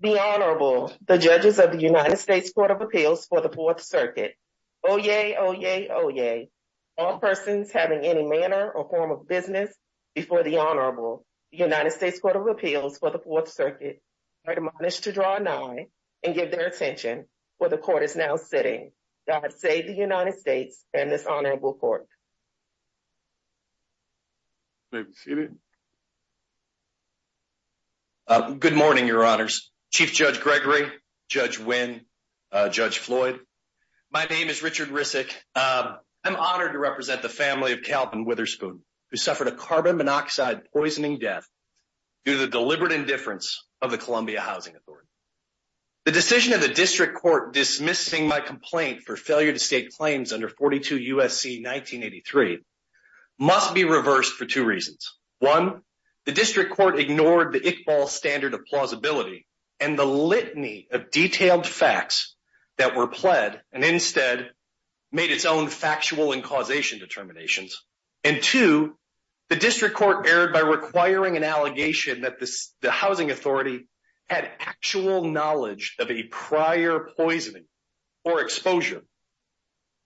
The Honorable, the judges of the United States Court of Appeals for the Fourth Circuit. Oyez, oyez, oyez. All persons having any manner or form of business before the Honorable, the United States Court of Appeals for the Fourth Circuit, are admonished to draw an eye and give their attention where the court is now sitting. God save the United States and this honorable court. May be seated. Good morning, your honors. Chief Judge Gregory, Judge Wynn, Judge Floyd. My name is Richard Rissick. I'm honored to represent the family of Calvin Witherspoon, who suffered a carbon monoxide poisoning death due to the deliberate indifference of the Columbia Housing Authority. The decision of the district court dismissing my complaint for failure to make claims under 42 USC 1983 must be reversed for two reasons. One, the district court ignored the Iqbal standard of plausibility and the litany of detailed facts that were pled and instead made its own factual and causation determinations. And two, the district court erred by requiring an allegation that the housing authority had actual knowledge of a prior poisoning or exposure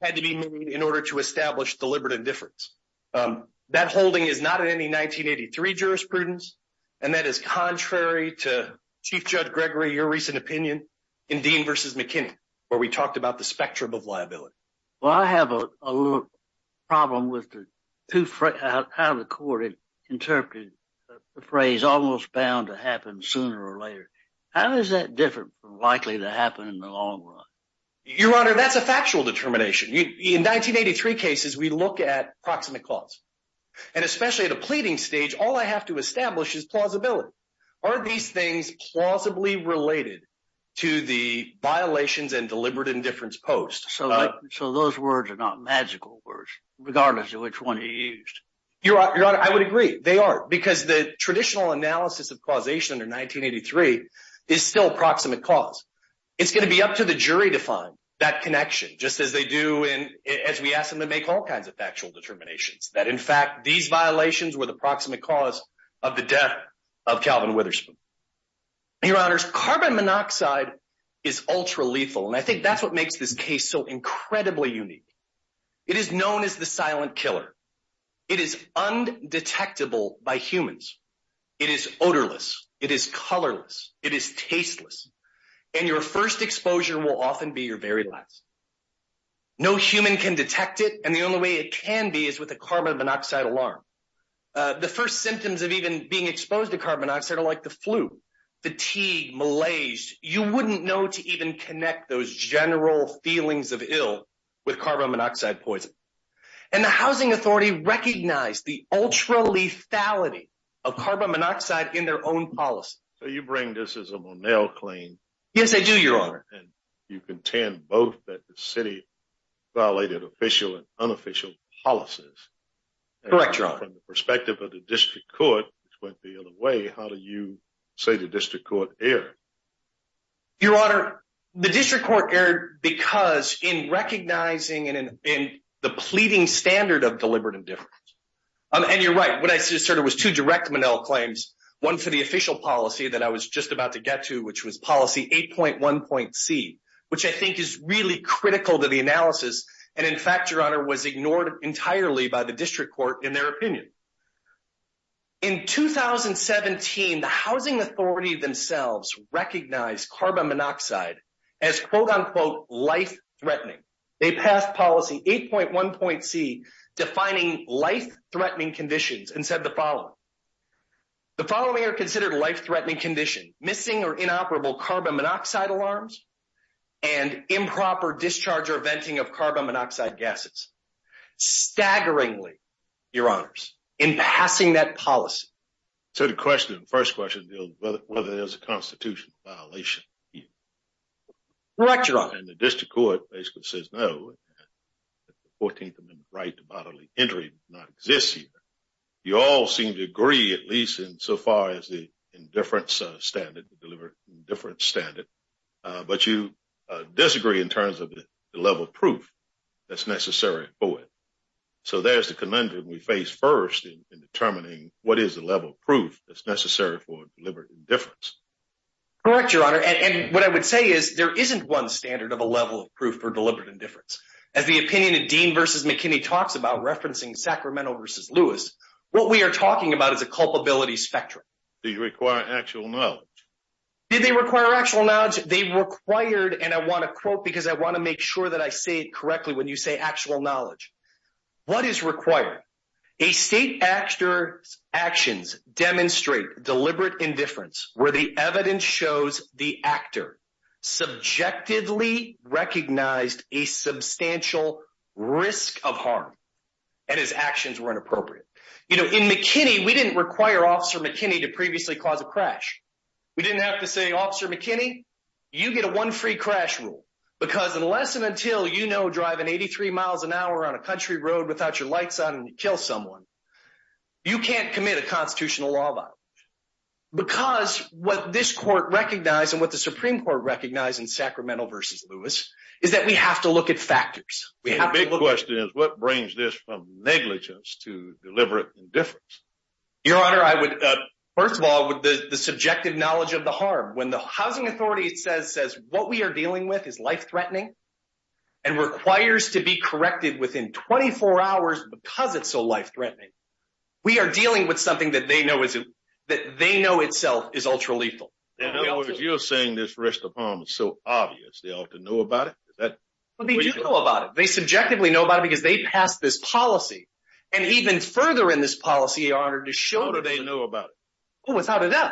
had to be made in order to establish deliberate indifference. That holding is not in any 1983 jurisprudence and that is contrary to Chief Judge Gregory, your recent opinion in Dean versus McKinney, where we talked about the spectrum of liability. Well, I have a little problem with the two out of the court interpreted the phrase almost bound to happen sooner or later. How is that different likely to happen in the long run? Your honor, that's a factual determination. In 1983 cases, we look at proximate cause and especially at a pleading stage, all I have to establish is plausibility. Are these things plausibly related to the violations and deliberate indifference post? So, so those words are not magical words regardless of which one he used. Your honor, I would agree they are because the traditional analysis of causation under 1983 is still proximate cause. It's going to be up to the jury to find that connection just as they do in as we ask them to make all kinds of factual determinations that in fact, these violations were the proximate cause of the death of Calvin Witherspoon. Your honors, carbon monoxide is ultra lethal and I think that's what makes this case so incredibly unique. It is known as the silent killer. It is undetectable by humans. It is colorless. It is tasteless and your first exposure will often be your very last. No human can detect it and the only way it can be is with a carbon monoxide alarm. The first symptoms of even being exposed to carbon monoxide are like the flu, fatigue, malaise. You wouldn't know to even connect those general feelings of ill with carbon monoxide poison. And the housing authority recognized the ultra lethality of carbon monoxide in their own policy. So you bring this as a Monell claim? Yes, I do, your honor. And you contend both that the city violated official and unofficial policies. Correct, your honor. From the perspective of the district court, which went the other way, how do you say the district court erred? Your honor, the district court erred because in recognizing and in the pleading standard of deliberate indifference. And you're right, what I just heard was two direct Monell claims, one for the official policy that I was just about to get to, which was policy 8.1.c, which I think is really critical to the analysis. And in fact, your honor, was ignored entirely by the district court in their opinion. In 2017, the housing authority themselves recognized carbon monoxide as quote unquote life threatening. They passed policy 8.1.c defining life threatening conditions and said the following. The following are considered life threatening condition, missing or inoperable carbon monoxide alarms, and improper discharge or venting of carbon monoxide gases. Staggeringly, your honors, in passing that policy. So the question, first question, whether there's a constitutional violation here. Correct, your honor. And the district court basically says no. The 14th amendment right to bodily injury does not exist here. You all seem to agree, at least in so far as the indifference standard, deliberate indifference standard. But you disagree in terms of the level of proof that's necessary for it. So there's the conundrum we face first in determining what is the level of proof that's necessary for deliberate indifference. Correct, your honor. And what I would say is there isn't one standard of a level of proof for deliberate indifference. As the opinion of Dean versus McKinney talks about referencing Sacramento versus Lewis, what we are talking about is a culpability spectrum. Do you require actual knowledge? Did they require actual knowledge? They required, and I want to quote because I want to make sure that I say it correctly when you say knowledge. What is required? A state actor's actions demonstrate deliberate indifference where the evidence shows the actor subjectively recognized a substantial risk of harm and his actions were inappropriate. You know, in McKinney, we didn't require officer McKinney to previously cause a crash. We didn't have to say, officer McKinney, you get a one free crash rule because unless and until, you know, driving 83 miles an hour on a country road without your lights on and you kill someone, you can't commit a constitutional law violation. Because what this court recognized and what the Supreme Court recognized in Sacramento versus Lewis is that we have to look at factors. The big question is what brings this from negligence to deliberate indifference? Your honor, I would, first of all, with the subjective knowledge of the harm, when the housing authority says what we are dealing with is life-threatening and requires to be corrected within 24 hours because it's so life-threatening, we are dealing with something that they know is, that they know itself is ultra lethal. In other words, you're saying this risk of harm is so obvious they ought to know about it? They do know about it. They subjectively know about it because they passed this policy and even further in this policy, your honor, to show that they know about it.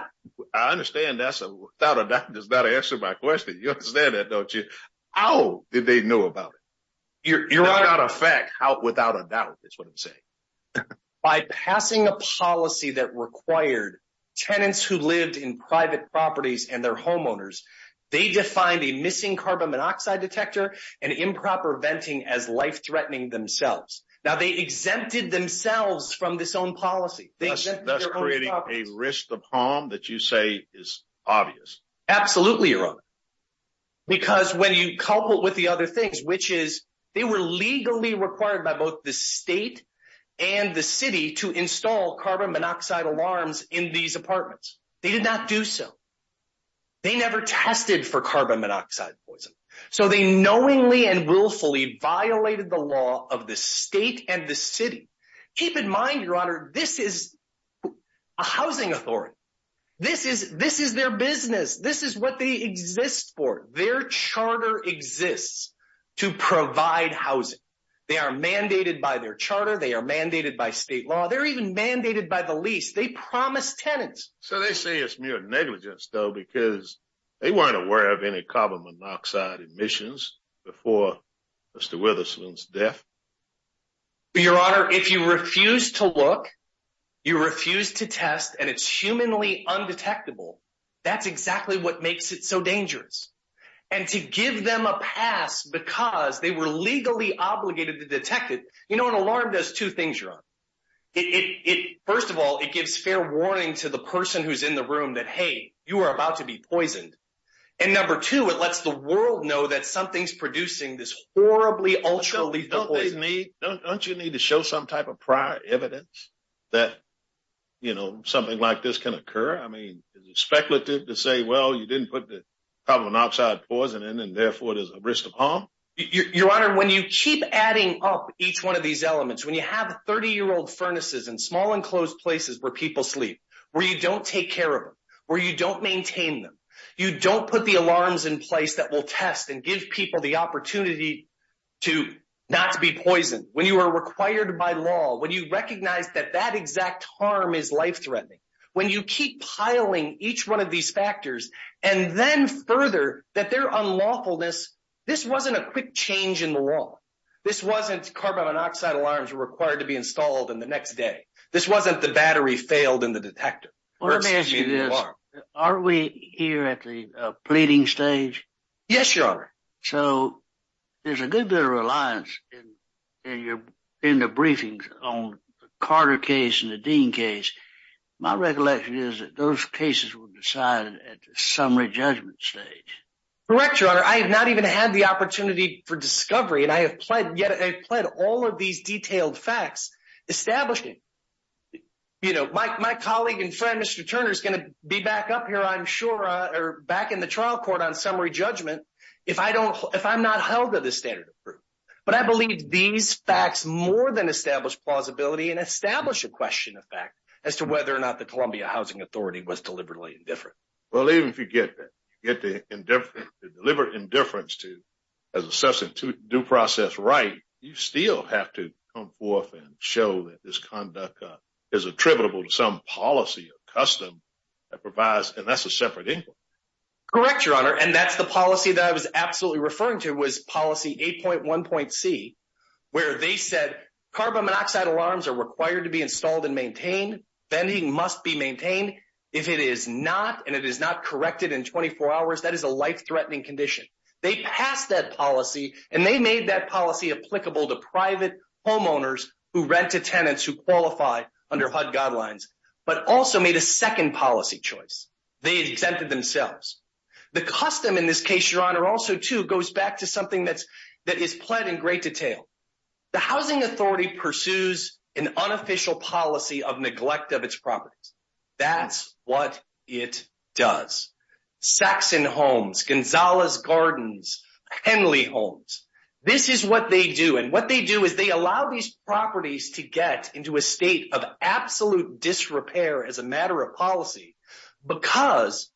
I understand that's a, without a doubt, that does not answer my question. You understand that, don't you? How did they know about it? Without a doubt, that's what I'm saying. By passing a policy that required tenants who lived in private properties and their homeowners, they defined a missing carbon monoxide detector and improper venting as life-threatening themselves. Now they exempted themselves from this own policy. Thus creating a risk of harm that you say is obvious. Absolutely, your honor. Because when you couple it with the other things, which is they were legally required by both the state and the city to install carbon monoxide alarms in these apartments. They did not do so. They never tested for carbon monoxide poison. So they knowingly and willfully violated the law of the state and the city. Keep in mind, your honor, this is a housing authority. This is their business. This is what they exist for. Their charter exists to provide housing. They are mandated by their charter. They are mandated by state law. They're even mandated by the lease. They promised tenants. So they say it's mere negligence though, because they weren't aware of any carbon monoxide emissions before Mr. Witherspoon's death? Your honor, if you refuse to look, you refuse to test, and it's humanly undetectable, that's exactly what makes it so dangerous. And to give them a pass because they were legally obligated to detect it. You know, an alarm does two things, your honor. First of all, it gives fair warning to the person who's in the room that, hey, you are about to be poisoned. And number two, it lets the world know that something's producing this horribly ultra lethal poison. Don't you need to show some type of prior evidence that, you know, something like this can occur? I mean, is it speculative to say, well, you didn't put the carbon monoxide poison in and therefore there's a risk of harm? Your honor, when you keep adding up each one of these elements, when you have 30-year-old furnaces in small enclosed places where people sleep, where you don't take care of them, where you don't maintain them, you don't put the alarms in place that will test and give people the opportunity to not be poisoned, when you are required by law, when you recognize that that exact harm is life-threatening, when you keep piling each one of these factors, and then further, that their unlawfulness, this wasn't a quick change in the law. This wasn't carbon monoxide alarms were required to be installed in the next day. This wasn't the battery failed in the detector. Well, let me ask you this. Are we here at the pleading stage? Yes, your honor. So there's a good bit of reliance in the briefings on the Carter case and the Dean case. My recollection is that those cases were decided at the summary judgment stage. Correct, your honor. I have not had the opportunity for discovery, and I have pled all of these detailed facts, establishing. My colleague and friend, Mr. Turner, is going to be back up here, I'm sure, or back in the trial court on summary judgment if I'm not held to this standard of proof. But I believe these facts more than establish plausibility and establish a question of fact as to whether or not the Columbia Housing Authority was deliberately indifferent. Well, even if you get the deliberate indifference to as a substitute due process right, you still have to come forth and show that this conduct is attributable to some policy or custom that provides, and that's a separate inquiry. Correct, your honor. And that's the policy that I was absolutely referring to was policy 8.1.C, where they said carbon monoxide alarms are required to be installed and maintained. Vending must be maintained. If it is not, and it is not corrected in 24 hours, that is a life-threatening condition. They passed that policy, and they made that policy applicable to private homeowners who rent to tenants who qualify under HUD guidelines, but also made a second policy choice. They exempted themselves. The custom in this case, your honor, also, too, goes back to something that is pled in great detail. The housing authority pursues an unofficial policy of neglect of its properties. That's what it does. Saxon homes, Gonzalez Gardens, Henley homes, this is what they do, and what they do is they allow these properties to get into a state of absolute disrepair as a matter of policy because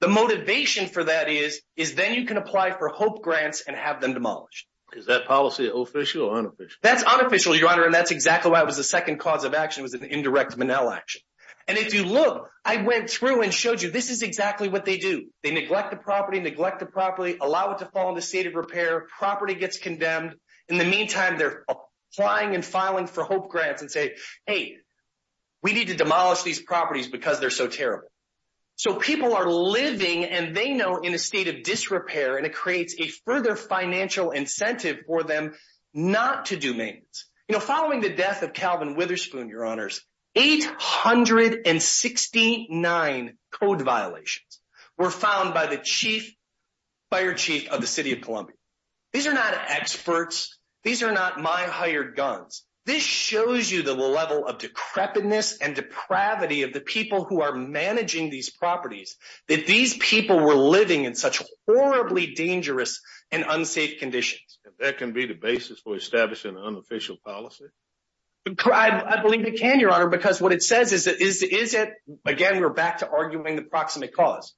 the motivation for that is, is then you can apply for HOPE grants and have them demolished. Is that policy official or unofficial, your honor, and that's exactly why it was the second cause of action was an indirect Monell action. And if you look, I went through and showed you this is exactly what they do. They neglect the property, neglect the property, allow it to fall into state of repair, property gets condemned. In the meantime, they're applying and filing for HOPE grants and say, hey, we need to demolish these properties because they're so terrible. So people are living, and they know, in a state of disrepair, and it creates a further financial incentive for them not to do maintenance. Following the death of Calvin Witherspoon, your honors, 869 code violations were found by the chief, fire chief of the city of Columbia. These are not experts. These are not my hired guns. This shows you the level of decrepitness and depravity of the people who are managing these properties, that these people were living in such horribly dangerous and unsafe conditions. That can be the basis for establishing an unofficial policy. I believe it can, your honor, because what it says is, again, we're back to arguing the proximate cause.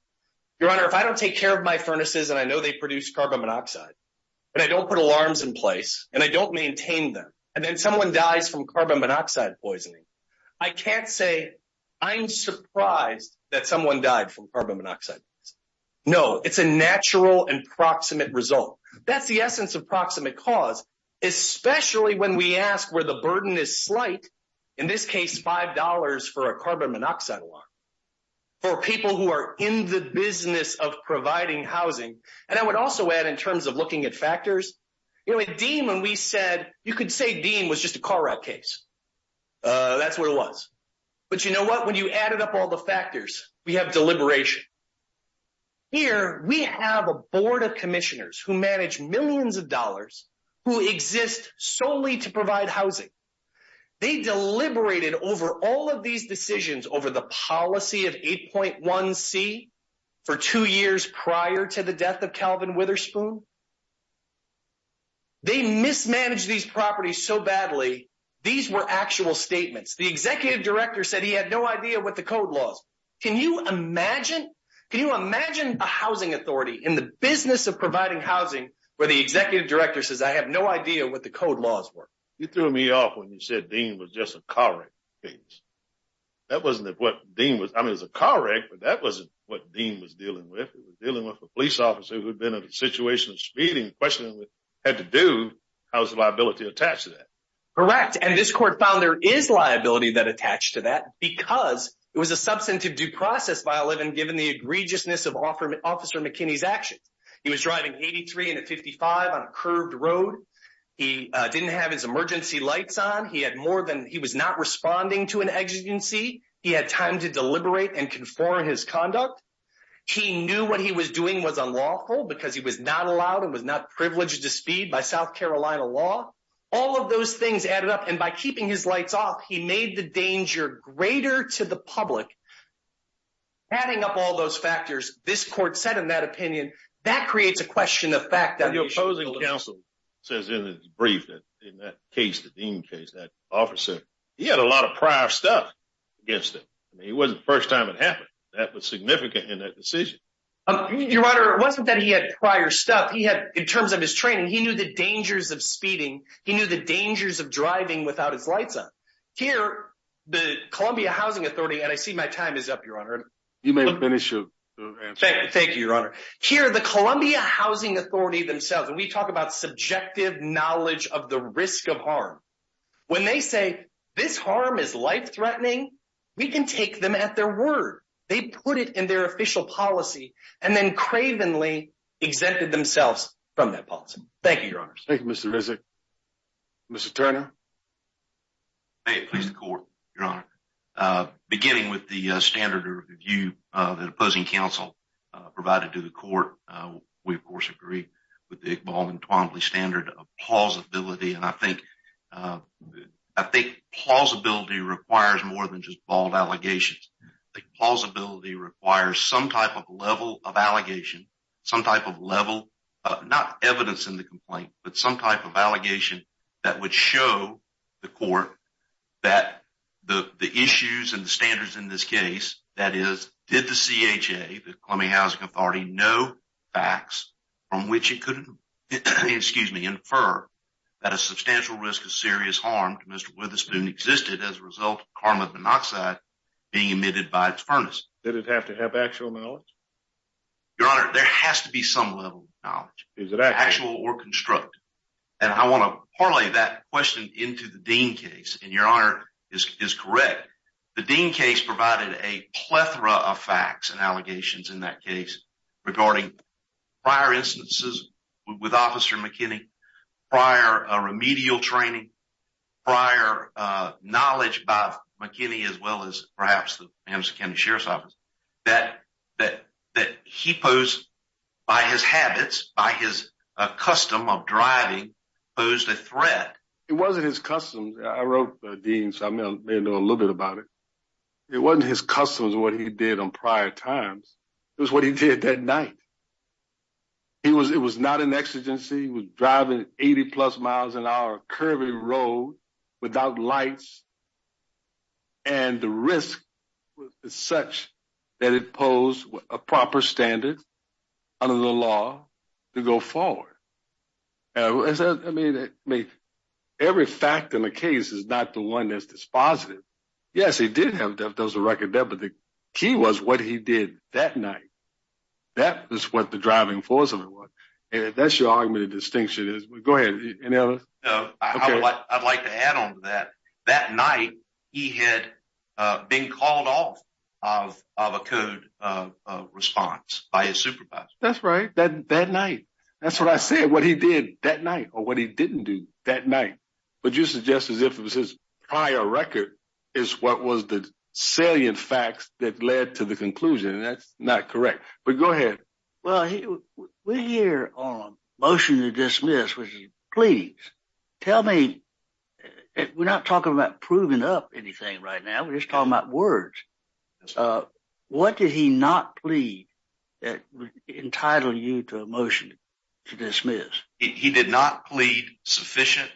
Your honor, if I don't take care of my furnaces, and I know they produce carbon monoxide, and I don't put alarms in place, and I don't maintain them, and then someone dies from carbon monoxide poisoning, I can't say I'm surprised that someone died from carbon monoxide. No, it's a natural and proximate result. That's the essence of proximate cause, especially when we ask where the burden is slight, in this case, $5 for a carbon monoxide alarm, for people who are in the business of providing housing. And I would also add, in terms of looking at factors, you know, at Dean, when we said, you could say Dean was just a car wreck case. That's what it was. But you know what? When you Here, we have a board of commissioners who manage millions of dollars who exist solely to provide housing. They deliberated over all of these decisions over the policy of 8.1c for two years prior to the death of Calvin Witherspoon. They mismanaged these properties so badly, these were actual statements. The executive director said he had no idea what the code laws. Can you imagine? Can you imagine a housing authority in the business of providing housing where the executive director says I have no idea what the code laws were? You threw me off when you said Dean was just a car wreck case. That wasn't what Dean was. I mean, it's a car wreck, but that wasn't what Dean was dealing with. It was dealing with a police officer who had been in a situation of speeding, questioning what he had to do. How's the liability attached to that? Correct. And this court found there is liability that attached to that because it was a substantive due process by 11, given the egregiousness of Officer McKinney's actions. He was driving 83 and a 55 on a curved road. He didn't have his emergency lights on. He had more than he was not responding to an exigency. He had time to deliberate and conform his conduct. He knew what he was doing was unlawful because he was not allowed and was not privileged to speed by South Carolina law. All of those things added up and by keeping his lights off, he made the danger greater to the public. Adding up all those factors, this court said in that opinion, that creates a question of fact. The opposing counsel says in his brief that in that case, the Dean case, that officer, he had a lot of prior stuff against him. I mean, it wasn't the first time it happened. That was significant in that decision. Your Honor, it wasn't that he had prior stuff. He had, in terms of his training, he knew the dangers of speeding. He knew the dangers of driving without his lights on. Here, the Columbia Housing Authority, and I see my time is up, Your Honor. You may finish your answer. Thank you, Your Honor. Here, the Columbia Housing Authority themselves, and we talk about subjective knowledge of the risk of harm. When they say this harm is life threatening, we can take them at their word. They put it in their official policy and then they take it. Thank you, Your Honor. Thank you, Mr. Rizek. Mr. Turner? May it please the court, Your Honor. Beginning with the standard of review that opposing counsel provided to the court, we of course agree with the Iqbal and Twombly standard of plausibility. I think plausibility requires more than just bold allegations. I think plausibility requires some type of level of allegation, some type of level, not evidence in the complaint, but some type of allegation that would show the court that the issues and the standards in this case, that is, did the CHA, the Columbia Housing Authority, know facts from which it could infer that a substantial risk of serious harm to Mr. Witherspoon existed as a result of carbon monoxide being emitted by its furnace? Did it have to have actual knowledge? Your Honor, there has to be some level of knowledge. Is it actual? Actual or constructed. And I want to parlay that question into the Dean case, and Your Honor is correct. The Dean case provided a plethora of facts and allegations in that case regarding prior instances with Officer McKinney, prior remedial training, prior knowledge by McKinney, as well as perhaps the Kansas County Sheriff's Office, that he posed, by his habits, by his custom of driving, posed a threat. It wasn't his customs. I wrote Dean, so I may know a little bit about it. It wasn't his customs, what he did on prior times. It was what he did that night. He was, it was not an exigency. He was driving 80 plus miles an hour, curvy road, without lights, and the risk was such that it posed a proper standard under the law to go forward. I mean, every fact in the case is not the one that's dispositive. Yes, he did have, there was a record there, but the key was what he did that night. That was what the driving force of it was, and that's your argument of distinction is. Go ahead, any others? I'd like to add on to that. That night, he had been called off of a code of response by his supervisor. That's right, that night. That's what I said, what he did that night, or what he didn't do that night. But you suggest as if it was his prior record is what was the salient facts that led to the conclusion, and that's not correct. But go ahead. Well, we're here on a motion to dismiss, which is pleadings. Tell me, we're not talking about proving up anything right now, we're just talking about words. What did he not plead that would entitle you to a motion to dismiss? He did not plead sufficient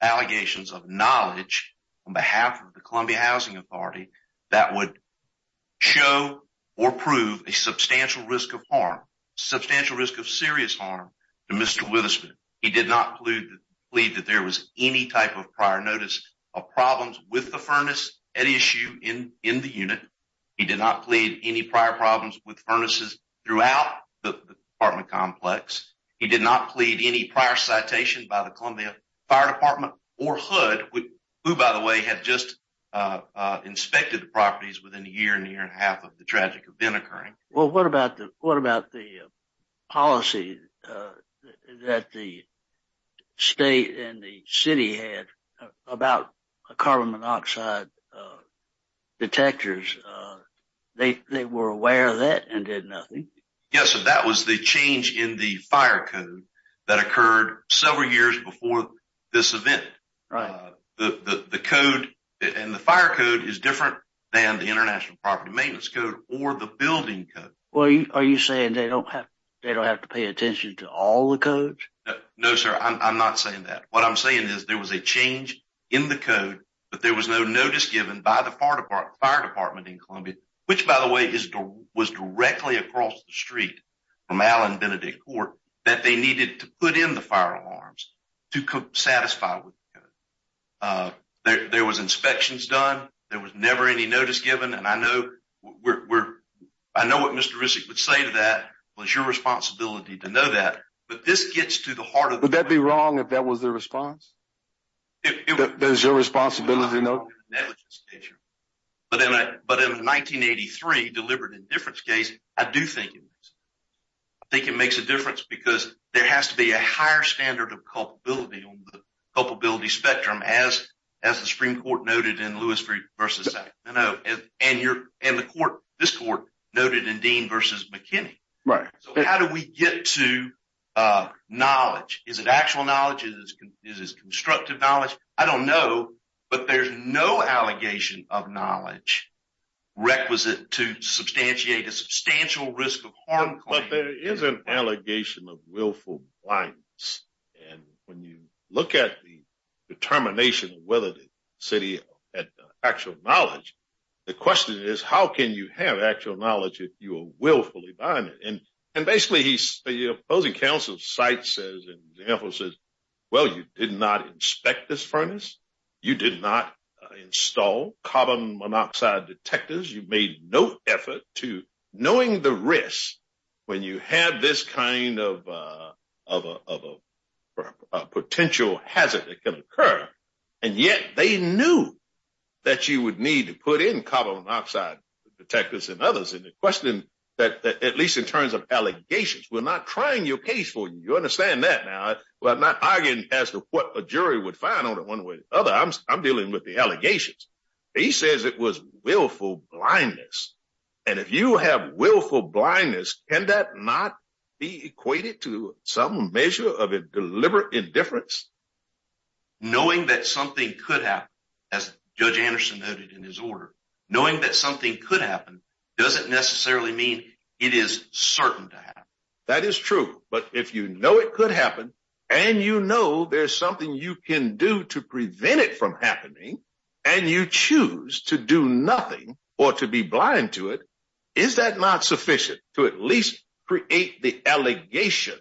allegations of knowledge on behalf of the Columbia Housing Authority that would show or prove a substantial risk of harm, substantial risk of serious harm to Mr. Witherspoon. He did not plead that there was any type of prior notice of problems with the furnace at issue in the unit. He did not plead any prior problems with furnaces throughout the apartment complex. He did not plead any prior citation by the Columbia Fire Department or HUD, who by the way had just inspected the properties within a year, and a year and a half of the tragic event occurring. Well, what about the policy that the state and the city had about carbon monoxide detectors? They were aware of that and did nothing. Yes, that was the change in the fire code that occurred several years before this event. And the fire code is different than the International Property Maintenance Code or the building code. Well, are you saying they don't have to pay attention to all the codes? No, sir, I'm not saying that. What I'm saying is there was a change in the code, but there was no notice given by the fire department in Columbia, which by the way was directly across the street from Allen Benedict Court, that they needed to put in the fire alarms to satisfy with the code. There was inspections done. There was never any notice given. And I know what Mr. Rissick would say to that, well, it's your responsibility to know that, but this gets to the heart of it. Would that be wrong if that was the response? Does your responsibility know? That was the issue. But in a 1983 deliberate indifference case, I do think it makes a difference because there has to be a higher standard of culpability on the culpability spectrum as the Supreme Court noted in Lewis v. Sackler. And this court noted in Dean v. McKinney. So how do we get to knowledge? Is it actual knowledge? Is it constructive knowledge? I don't know, but there's no allegation of knowledge requisite to substantiate a substantial risk of harm claim. But there is an allegation of willful blindness. And when you look at the determination of whether the city had actual knowledge, the question is how can you have actual knowledge if you are willfully blinded? And basically the opposing counsel's site says, and the example says, well, you did not inspect this furnace. You did not install carbon monoxide detectors. You made no effort to knowing the risk when you have this kind of a potential hazard that can occur. And yet they knew that you would need to put in carbon monoxide detectors and others. And the question that at least in terms of allegations, we're not trying your case for you understand that now, but not arguing as to what a jury would find on one way or the other. I'm dealing with the allegations. He says it was willful blindness. And if you have willful blindness, can that not be equated to some measure of a deliberate indifference? Knowing that something could happen as Judge Anderson noted in his order, knowing that something could happen doesn't necessarily mean it is certain to happen. That is true. But if you know it could happen and you know there's something you can do to prevent it from happening and you choose to do nothing or to be blind to it, is that not sufficient to at least create the allegation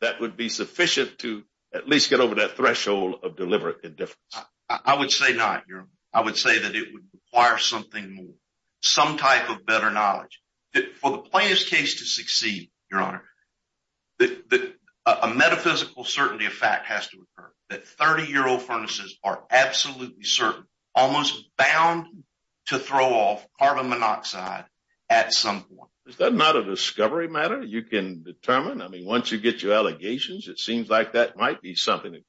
that would be sufficient to at least get over that threshold of deliberate indifference? I would say not. I would say that it would require something more, some type of better knowledge. For the plaintiff's case to succeed, Your Honor, a metaphysical certainty of fact has to occur that 30-year-old furnaces are absolutely certain, almost bound to throw off carbon monoxide at some point. Is that not a discovery matter you can determine? I mean, once you get your allegations, it seems like that might be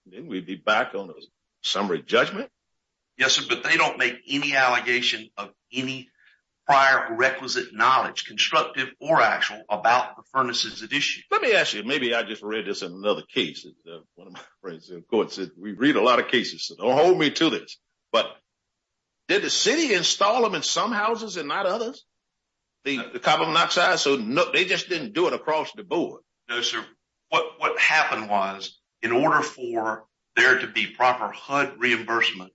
then we'd be back on a summary judgment. Yes, sir, but they don't make any allegation of any prior requisite knowledge, constructive or actual, about the furnaces at issue. Let me ask you, maybe I just read this in another case. One of my friends in court said, we read a lot of cases, so don't hold me to this, but did the city install them in some houses and not others, the carbon monoxide? So no, they just didn't do it across the board. No, sir. What happened was, in order for there to be proper HUD reimbursement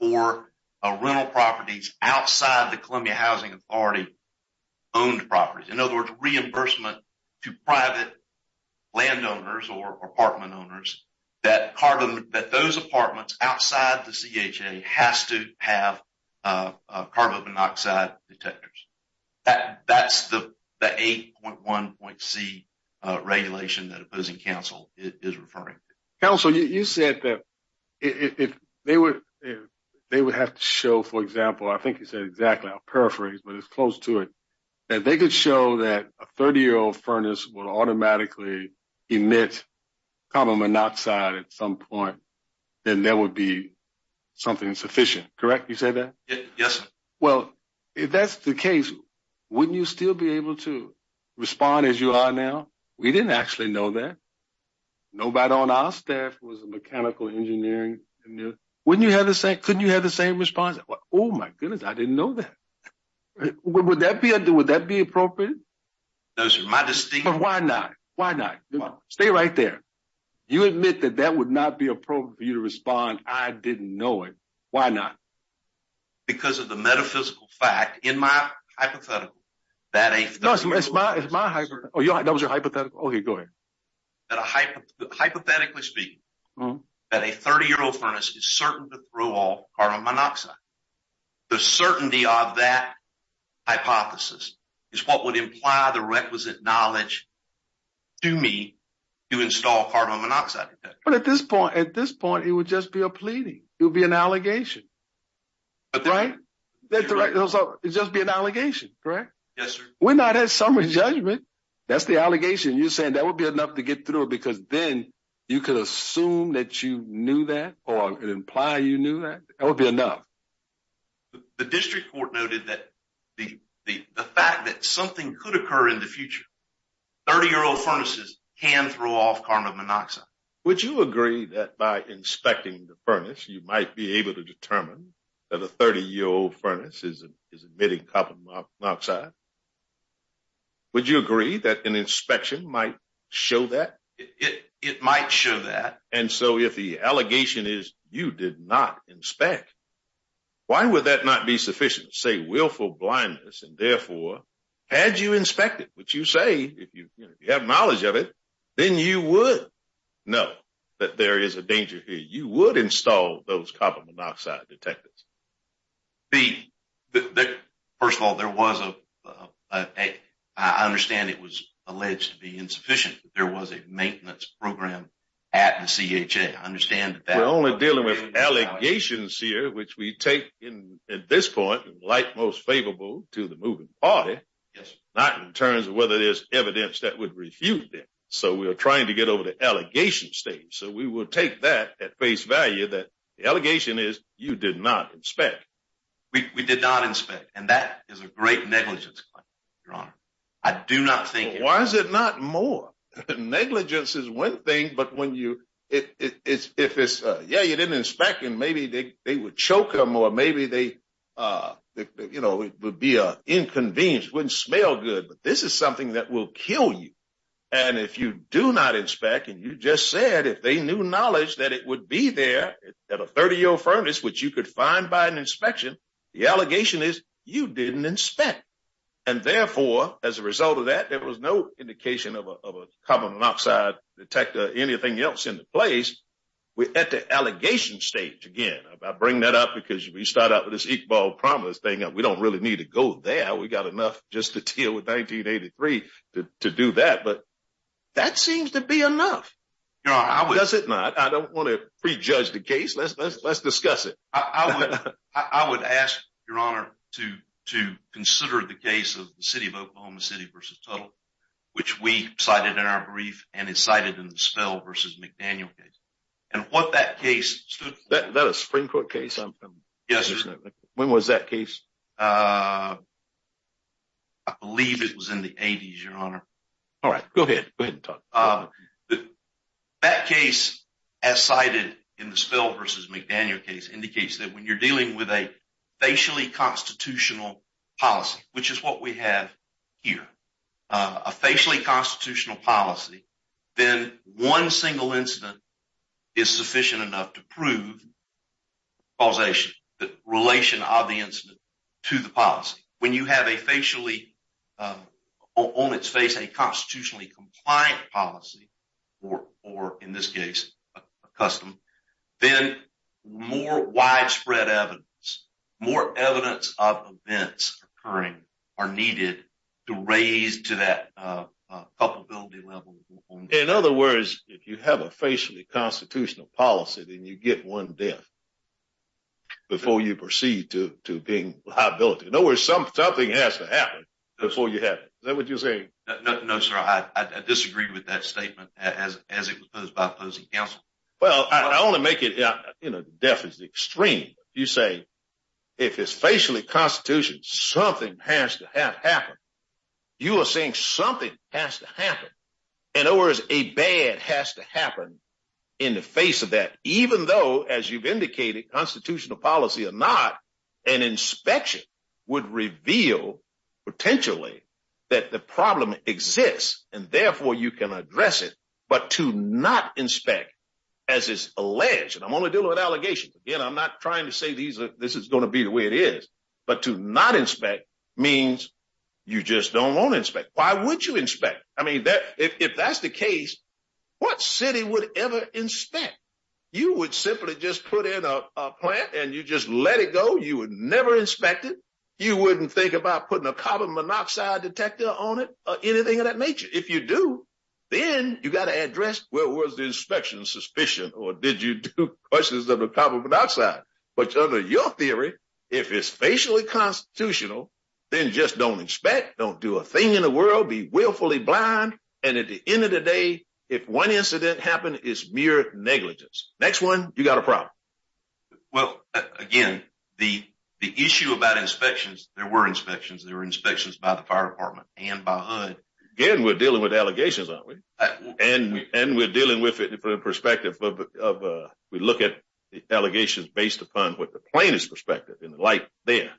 for rental properties outside the Columbia Housing Authority owned properties, in other words, reimbursement to private landowners or apartment owners, that those apartments outside the CHA has to have carbon monoxide detectors. That's the 8.1.C regulation that opposing counsel is referring to. Counsel, you said that they would have to show, for example, I think you said exactly, I'll paraphrase, but it's close to it, that they could show that a 30-year-old furnace would automatically emit carbon monoxide at some point, then there would be something sufficient, correct? You said that? Yes, sir. Well, if that's the case, wouldn't you still be able to respond as you are now? We didn't actually know that. Nobody on our staff was in mechanical engineering. Couldn't you have the same response? Oh my goodness, I didn't know that. Would that be appropriate? Those are my distinctions. Why not? Why not? Stay right there. You admit that that would not be appropriate for a 30-year-old furnace. I didn't know it. Why not? Because of the metaphysical fact, in my hypothetical, that a 30-year-old furnace is certain to throw off carbon monoxide. The certainty of that hypothesis is what would imply the requisite knowledge to me to install carbon monoxide. But at this point, it would just be a pleading. It would be an allegation, right? It would just be an allegation, correct? Yes, sir. We're not at summary judgment. That's the allegation. You're saying that would be enough to get through it because then you could assume that you knew that or imply you knew that. That would be enough. The district court noted that the fact that something could occur in the future, 30-year-old furnaces can throw off carbon monoxide. Would you agree that by inspecting the furnace, you might be able to determine that a 30-year-old furnace is emitting carbon monoxide? Would you agree that an inspection might show that? It might show that. And so if the allegation is you did not inspect, why would that not be sufficient? Say willful blindness and therefore, had you inspected what you say, if you have knowledge of it, then you would know that there is a danger here. You would install those carbon monoxide detectors. First of all, there was a, I understand it was alleged to be insufficient, but there was a maintenance program at the CHA. I understand that. We're only dealing with allegations here, which we take at this point, like most favorable to the moving party, not in terms of whether there's evidence that would refute them. So we are trying to get over the allegation stage. So we will take that at face value that the allegation is you did not inspect. We did not inspect. And that is a great negligence claim, Your Honor. I do not think- Why is it not more? Negligence is one thing, but when you, if it's, yeah, you didn't inspect and maybe they would choke them or maybe they, you know, it would be an inconvenience, wouldn't smell good, but this is something that will kill you. And if you do not inspect and you just said, if they knew knowledge that it would be there at a 30-year furnace, which you could find by an inspection, the allegation is you didn't inspect. And therefore, as a result of that, there was no indication of a carbon monoxide detector or anything else in the place. We're at the allegation stage again. I bring that up because if we start out with this Iqbal Promise thing, we don't really need to go there. We got enough just to deal with 1983 to do that. But that seems to be enough. Does it not? I don't want to prejudge the case. Let's discuss it. I would ask, Your Honor, to consider the case of Oklahoma City v. Tuttle, which we cited in our brief and it's cited in the Spell v. McDaniel case. And what that case... Is that a Supreme Court case? Yes. When was that case? I believe it was in the 80s, Your Honor. All right. Go ahead. Go ahead and talk. That case as cited in the Spell v. McDaniel case indicates that when you're dealing with a facially constitutional policy, which is what we have here, a facially constitutional policy, then one single incident is sufficient enough to prove causation, the relation of the incident to the policy. When you have on its face a constitutionally compliant policy, or in this custom, then more widespread evidence, more evidence of events occurring are needed to raise to that culpability level. In other words, if you have a facially constitutional policy, then you get one death before you proceed to being liability. In other words, something has to happen before you have it. Is that what you're saying? No, sir. I disagreed with that statement as it has... Well, I only make it... Death is extreme. You say, if it's facially constitution, something has to have happened. You are saying something has to happen. In other words, a bad has to happen in the face of that, even though, as you've indicated, constitutional policy or not, an inspection would reveal potentially that the problem exists and therefore you can address it. But to not inspect, as is alleged, and I'm only dealing with allegations. Again, I'm not trying to say this is going to be the way it is, but to not inspect means you just don't want to inspect. Why would you inspect? If that's the case, what city would ever inspect? You would simply just put in a plant and you just let it go. You would never inspect it. You wouldn't think about putting a carbon monoxide detector on it or anything of that nature. If you do, then you got to address, where was the inspection suspicion or did you do questions of the carbon monoxide? But under your theory, if it's facially constitutional, then just don't inspect, don't do a thing in the world, be willfully blind. And at the end of the day, if one incident happened, it's mere negligence. Next one, you got a problem. Well, again, the issue about inspections, there were inspections, inspections by the fire department and by HUD. Again, we're dealing with allegations, aren't we? And we're dealing with it from the perspective of, we look at the allegations based upon what the plaintiff's perspective and the light there.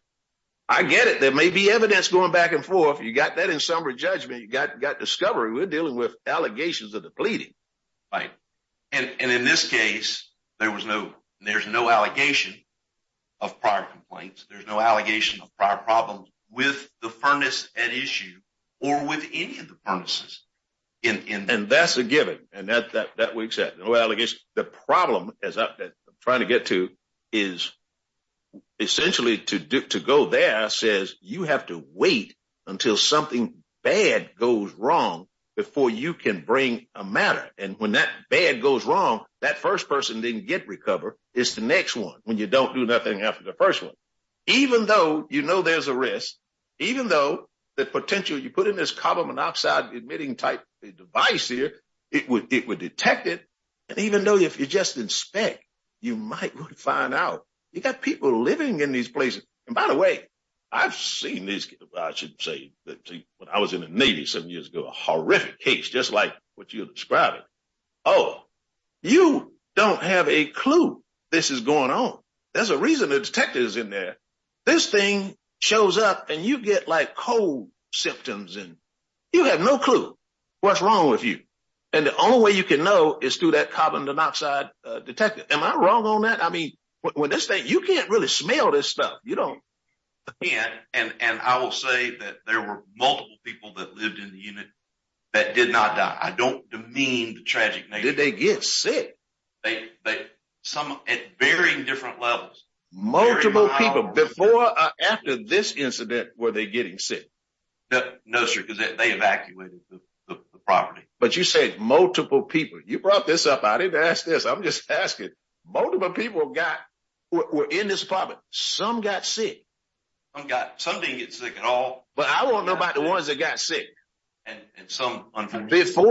I get it. There may be evidence going back and forth. You got that in summary judgment. You got discovery. We're dealing with allegations of depleting. Right. And in this case, there was no, there's no allegation of prior complaints. There's no allegation of prior problems with the furnace at issue or with any of the furnaces. And that's a given. And that we accept. No allegations. The problem as I'm trying to get to is essentially to go there says you have to wait until something bad goes wrong before you can bring a matter. And when that bad goes wrong, that first person didn't get recovered. It's the next one. When you don't do nothing after the first one, even though you know, there's a risk, even though the potential you put in this carbon monoxide emitting type device here, it would, it would detect it. And even though if you just inspect, you might find out you got people living in these places. And by the way, I've seen these, I should say that when I was in the Navy, seven years ago, a horrific case, just like what you're describing. Oh, you don't have a clue. This is going on. There's a reason the detectives in there, this thing shows up and you get like cold symptoms and you have no clue what's wrong with you. And the only way you can know is through that carbon monoxide detector. Am I wrong on that? I mean, when this thing, you can't really smell this stuff. You don't. And I will say that there were multiple people that lived in the unit that did not die. I don't demean the tragic. Did they get sick? They, they, some at varying different levels, multiple people before, after this incident, were they getting sick? No, sir. Cause they evacuated the property, but you say multiple people, you brought this up. I didn't ask this. I'm just asking multiple people got were in this apartment. Some got sick. I've some before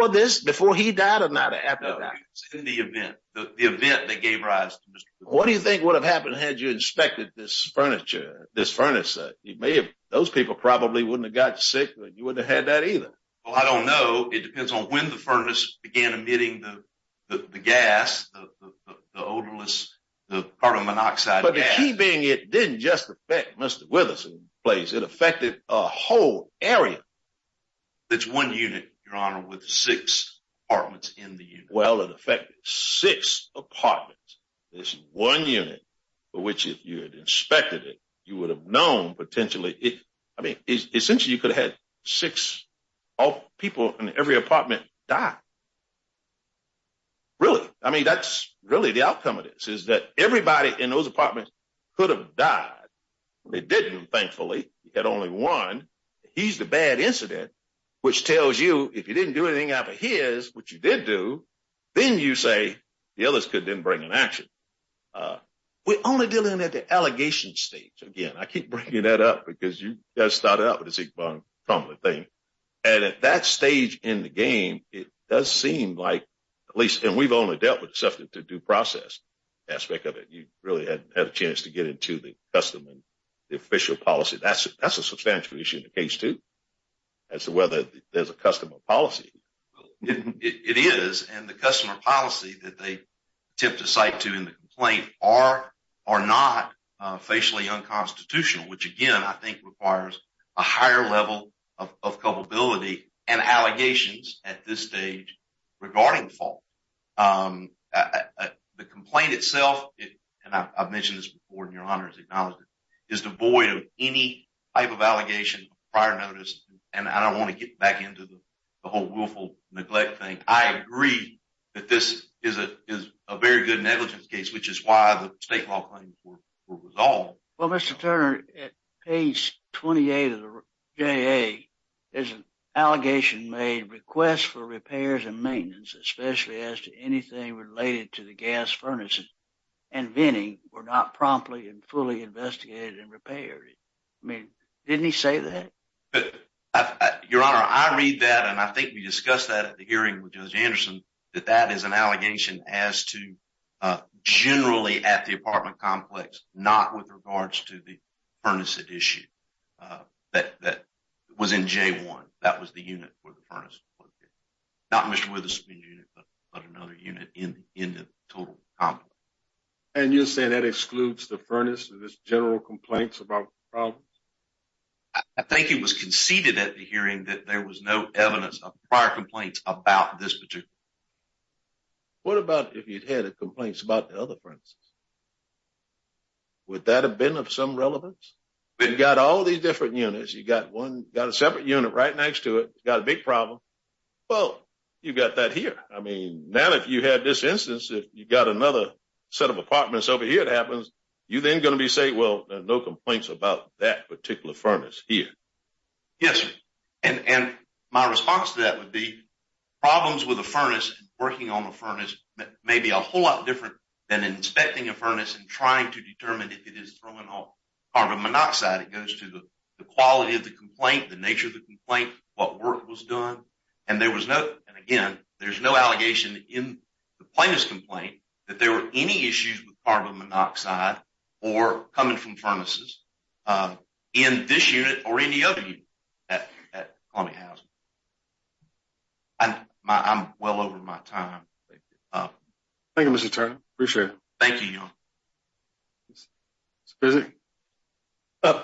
this, before he died or not after the event, the event that gave rise to what do you think would have happened? Had you inspected this furniture, this furnace, you may have, those people probably wouldn't have got sick, but you wouldn't have had that either. Well, I don't know. It depends on when the furnace began emitting the gas, the odorless, the carbon monoxide. But the key being, it didn't just affect Mr. Withers in place. It affected a unit, your honor, with six apartments in the unit. Well, it affected six apartments. This one unit for which if you had inspected it, you would have known potentially it, I mean, essentially you could have had six people in every apartment die. Really? I mean, that's really the outcome of this is that everybody in those apartments could have died. They didn't. Thankfully you had only one. He's the bad incident, which tells you if you didn't do anything after his, which you did do, then you say the others could didn't bring an action. We're only dealing at the allegation stage. Again, I keep bringing that up because you guys started out with the Zeke Bond thing. And at that stage in the game, it does seem like at least, and we've only dealt with the substance to due process aspect of it. You really hadn't had a chance to get into the custom and the official policy. That's a substantial issue in the case too. As to whether there's a customer policy. It is. And the customer policy that they tip the site to in the complaint are or not facially unconstitutional, which again, I think requires a higher level of culpability and allegations at this stage regarding fault. The complaint itself, and I've mentioned this before and your honor has acknowledged it, is devoid of any type of allegation prior notice. And I don't want to get back into the whole willful neglect thing. I agree that this is a very good negligence case, which is why the state law claims were resolved. Well, Mr. Turner, at page 28 of the JA, there's an allegation made requests for repairs and maintenance, especially as to anything related to the gas furnaces and venting were not promptly and fully investigated and repaired. I mean, didn't he say that? Your honor, I read that and I think we discussed that at the hearing with Judge Anderson that that is an allegation as to generally at the apartment complex, not with regards to the furnace at issue that was in J1. That was the unit for the furnace. Not Mr. Witherspoon unit, but another unit in the total complex. And you're saying that excludes the furnace and this general complaints about problems? I think it was conceded at the hearing that there was no evidence of prior complaints about this particular. What about if you'd had a complaints about the other furnaces? Would that have been of some relevance? We've got all these different units. You got one, got a separate unit right next to it. Got a big problem. Well, you've got that here. I mean, now if you had this instance, if you've got another set of apartments over here, it happens. You're then going to be saying, well, there are no complaints about that particular furnace here. Yes, sir. And my response to that would be problems with the furnace, working on the furnace may be a whole lot different than inspecting a furnace and trying to determine if it is throwing off carbon monoxide. It goes to the quality of the complaint, the nature of the complaint, what work was done. And there was no, and again, there's no allegation in the plaintiff's complaint that there were any issues with carbon monoxide or coming from furnaces in this unit or any other unit at Columbia Housing. I'm well over my time. Thank you, Mr. Turner. Appreciate it. Thank you, y'all.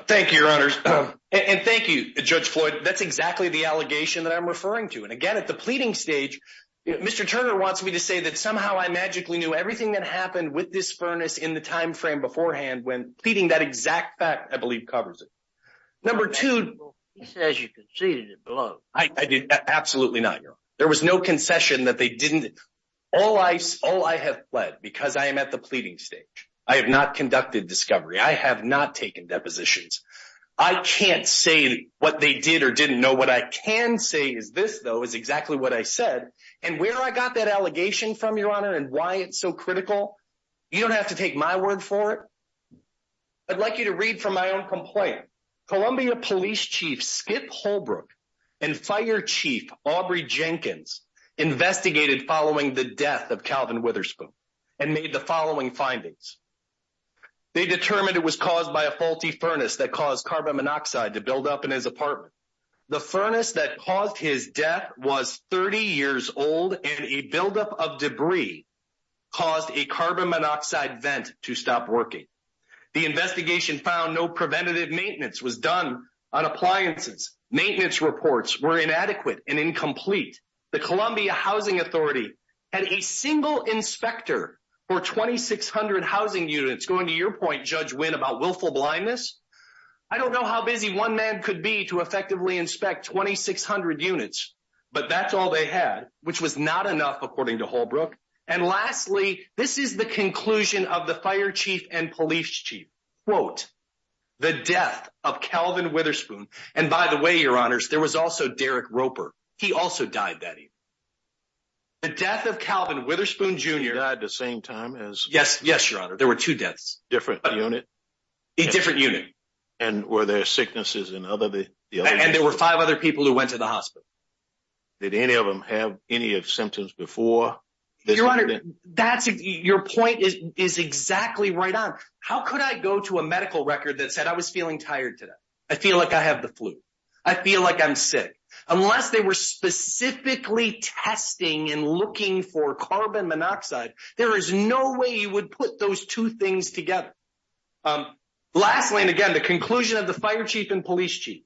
Thank you, your honors. And thank you, Judge Floyd. That's exactly the allegation that I'm referring to. And again, at the pleading stage, Mr. Turner wants me to say that somehow I magically knew everything that happened with this furnace in the timeframe beforehand when pleading that exact fact, I believe covers it. Number two, he says you conceded it below. I did absolutely not. There was no concession that they didn't. All I have pled because I am at the pleading stage. I have not conducted discovery. I have not taken depositions. I can't say what they did or didn't know. What I can say is this, though, is exactly what I said and where I got that allegation from, your honor, and why it's so critical. You don't have to take my word for it. I'd like you to read from my own complaint. Columbia Police Chief Skip Holbrook and Fire Chief Aubrey Jenkins investigated following the death of Calvin Witherspoon and made the following findings. They determined it was caused by a faulty furnace that caused carbon monoxide to build up in his apartment. The furnace that caused his death was 30 years old and a buildup of debris caused a carbon monoxide vent to stop working. The investigation found no preventative maintenance was done on appliances. Maintenance reports were inadequate and incomplete. The Columbia Housing Authority had a single inspector for 2,600 housing units. Going to your point, Judge Wynn, about willful blindness, I don't know how busy one man could be to effectively inspect 2,600 units, but that's all they had, which was not enough, according to Holbrook. And lastly, this is the conclusion of the fire chief and police chief, quote, the death of Calvin Witherspoon. And by the way, your honors, there was also Derek Roper. He also died that evening. The death of Calvin Witherspoon, Jr. He died the same time as? Yes, yes, your honor. There were two deaths. Different unit? A different unit. And were there sicknesses in other? And there were five other people who went to the hospital. Did any of them have any of symptoms before? Your honor, that's your point is exactly right on. How could I go to a medical record that said I was feeling tired today? I feel like I have the flu. I feel like I'm sick. Unless they were specifically testing and looking for carbon monoxide, there is no way you would put those two things together. Lastly, and again, the conclusion of the fire chief and police chief,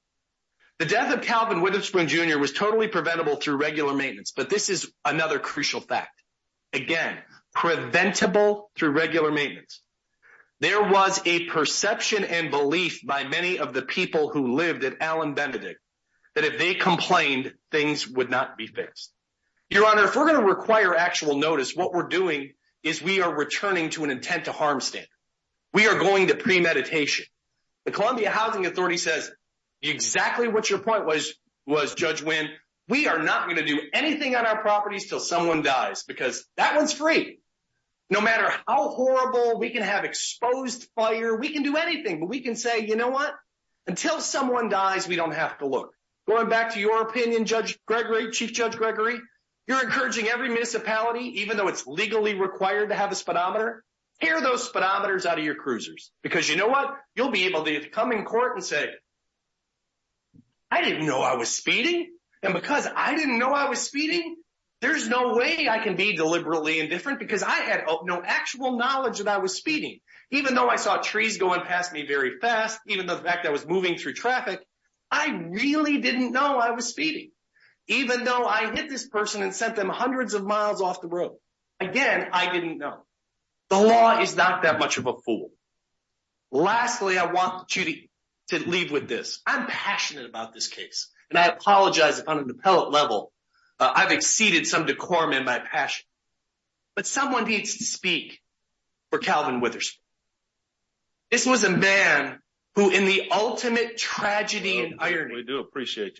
the death of Calvin Witherspoon, Jr. was totally preventable through regular maintenance. But this is another crucial fact. Again, preventable through regular maintenance. There was a perception and belief by many of the people who lived at Allen Benedict that if they complained, things would not be fixed. Your honor, if we're going to require actual notice, what we're doing is we are returning to an intent to harm state. We are going to premeditation. The Columbia Housing Authority says exactly what your point was, Judge Wynn. We are not going to do anything on our properties until someone dies because that one's free. No matter how horrible we can have exposed fire, we can do anything. But we can say, you know what? Until someone dies, we don't have to look. Going back to your opinion, Judge Gregory, Chief Judge Gregory, you're encouraging every municipality, even though it's legally required to have a speedometer, hear those speedometers out of your cruisers. Because you know what? You'll be able to come in court and say, I didn't know I was speeding. And because I didn't know I was speeding, there's no way I can be deliberately indifferent because I had no actual knowledge that I was speeding. Even though I saw trees going past me very fast, even the fact that I was moving through traffic, I really didn't know I was speeding. Even though I hit this person and them hundreds of miles off the road, again, I didn't know. The law is not that much of a fool. Lastly, I want you to leave with this. I'm passionate about this case. And I apologize if on an appellate level, I've exceeded some decorum in my passion. But someone needs to speak for Calvin Witherspoon. This was a man who in the ultimate tragedy and irony... ...appellate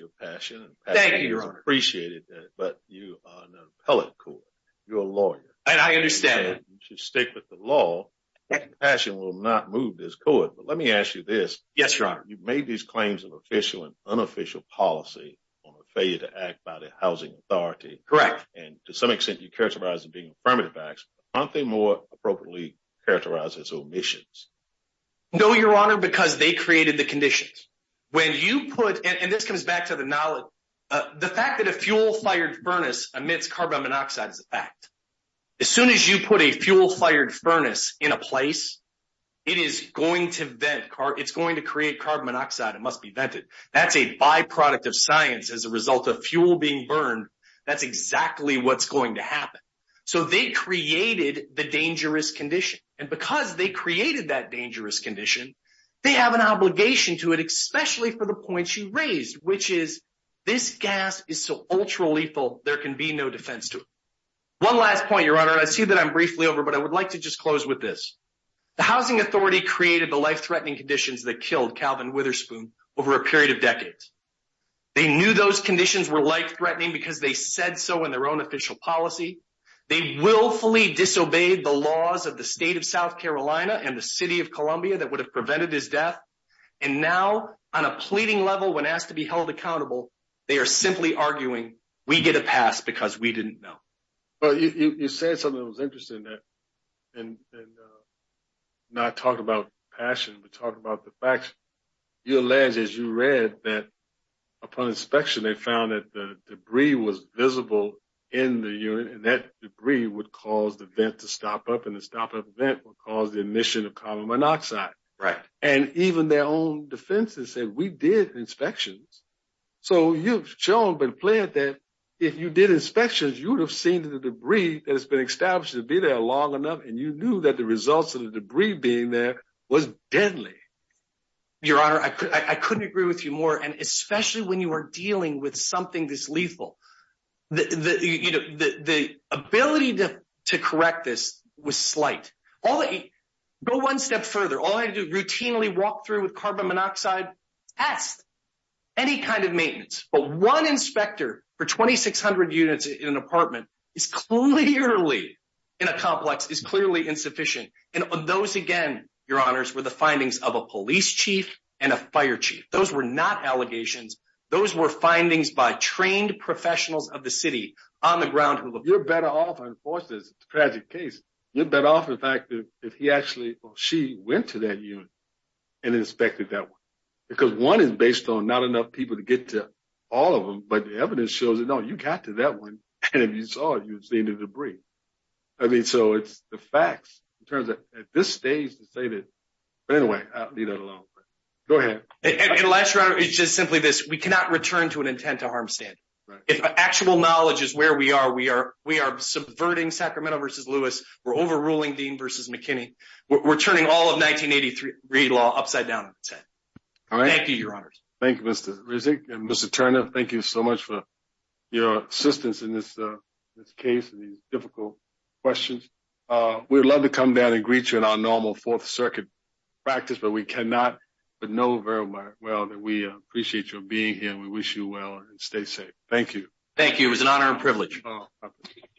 court. You're a lawyer. And I understand that. You should stick with the law. Compassion will not move this court. But let me ask you this. Yes, Your Honor. You've made these claims of official and unofficial policy on a failure to act by the Housing Authority. Correct. And to some extent, you characterize it being affirmative acts. Aren't they more appropriately characterized as omissions? No, Your Honor, because they created the conditions. When you put...and this comes back to the knowledge...the fact that a fuel-fired furnace emits carbon monoxide is a fact. As soon as you put a fuel-fired furnace in a place, it is going to create carbon monoxide. It must be vented. That's a byproduct of science as a result of fuel being burned. That's exactly what's going to happen. So they created the dangerous condition. And because they created that dangerous condition, they have an obligation to it, no defense to it. One last point, Your Honor. I see that I'm briefly over, but I would like to just close with this. The Housing Authority created the life-threatening conditions that killed Calvin Witherspoon over a period of decades. They knew those conditions were life-threatening because they said so in their own official policy. They willfully disobeyed the laws of the state of South Carolina and the city of Columbia that would have prevented his death. And now, on a pleading level, when asked to be held accountable, they are simply arguing, we get a pass because we didn't know. Well, you said something that was interesting. Not talk about passion, but talk about the facts. You allege, as you read, that upon inspection, they found that the debris was visible in the unit. And that debris would cause the vent to stop up. And the stop-up vent would cause the emission of carbon monoxide. And even their own defense has said, we did inspections. So you've shown by the plant that if you did inspections, you would have seen the debris that has been established to be there long enough. And you knew that the results of the debris being there was deadly. Your Honor, I couldn't agree with you more. And especially when you are dealing with something this lethal, the ability to correct this was slight. Go one step further. All I had to do, routinely walk through with carbon monoxide, test, any kind of maintenance. But one inspector for 2,600 units in an apartment is clearly, in a complex, is clearly insufficient. And those, again, Your Honors, were the findings of a police chief and a fire chief. Those were not allegations. Those were findings by trained professionals of the city on the ground. You're better off, unfortunately, it's a tragic case. You're better off, in fact, if he actually or she went to that unit and inspected that one. Because one is based on not enough people to get to all of them. But the evidence shows that, no, you got to that one. And if you saw it, you would see the debris. I mean, so it's the facts in terms of at this stage to say that. But anyway, I'll leave that alone. Go ahead. And last, Your Honor, it's just simply this. We cannot return to an intent to harm stand. If actual knowledge is where we are, we are subverting Sacramento v. Lewis. We're overruling Dean v. McKinney. We're turning all of 1983 law upside down. Thank you, Your Honors. Thank you, Mr. Rizek. And Mr. Turner, thank you so much for your assistance in this case and these difficult questions. We would love to come down and greet you in our normal Fourth Circuit practice. But we cannot. But know very well that we appreciate your being here and we wish you well and stay safe. Thank you. Thank you. It was an honor and privilege.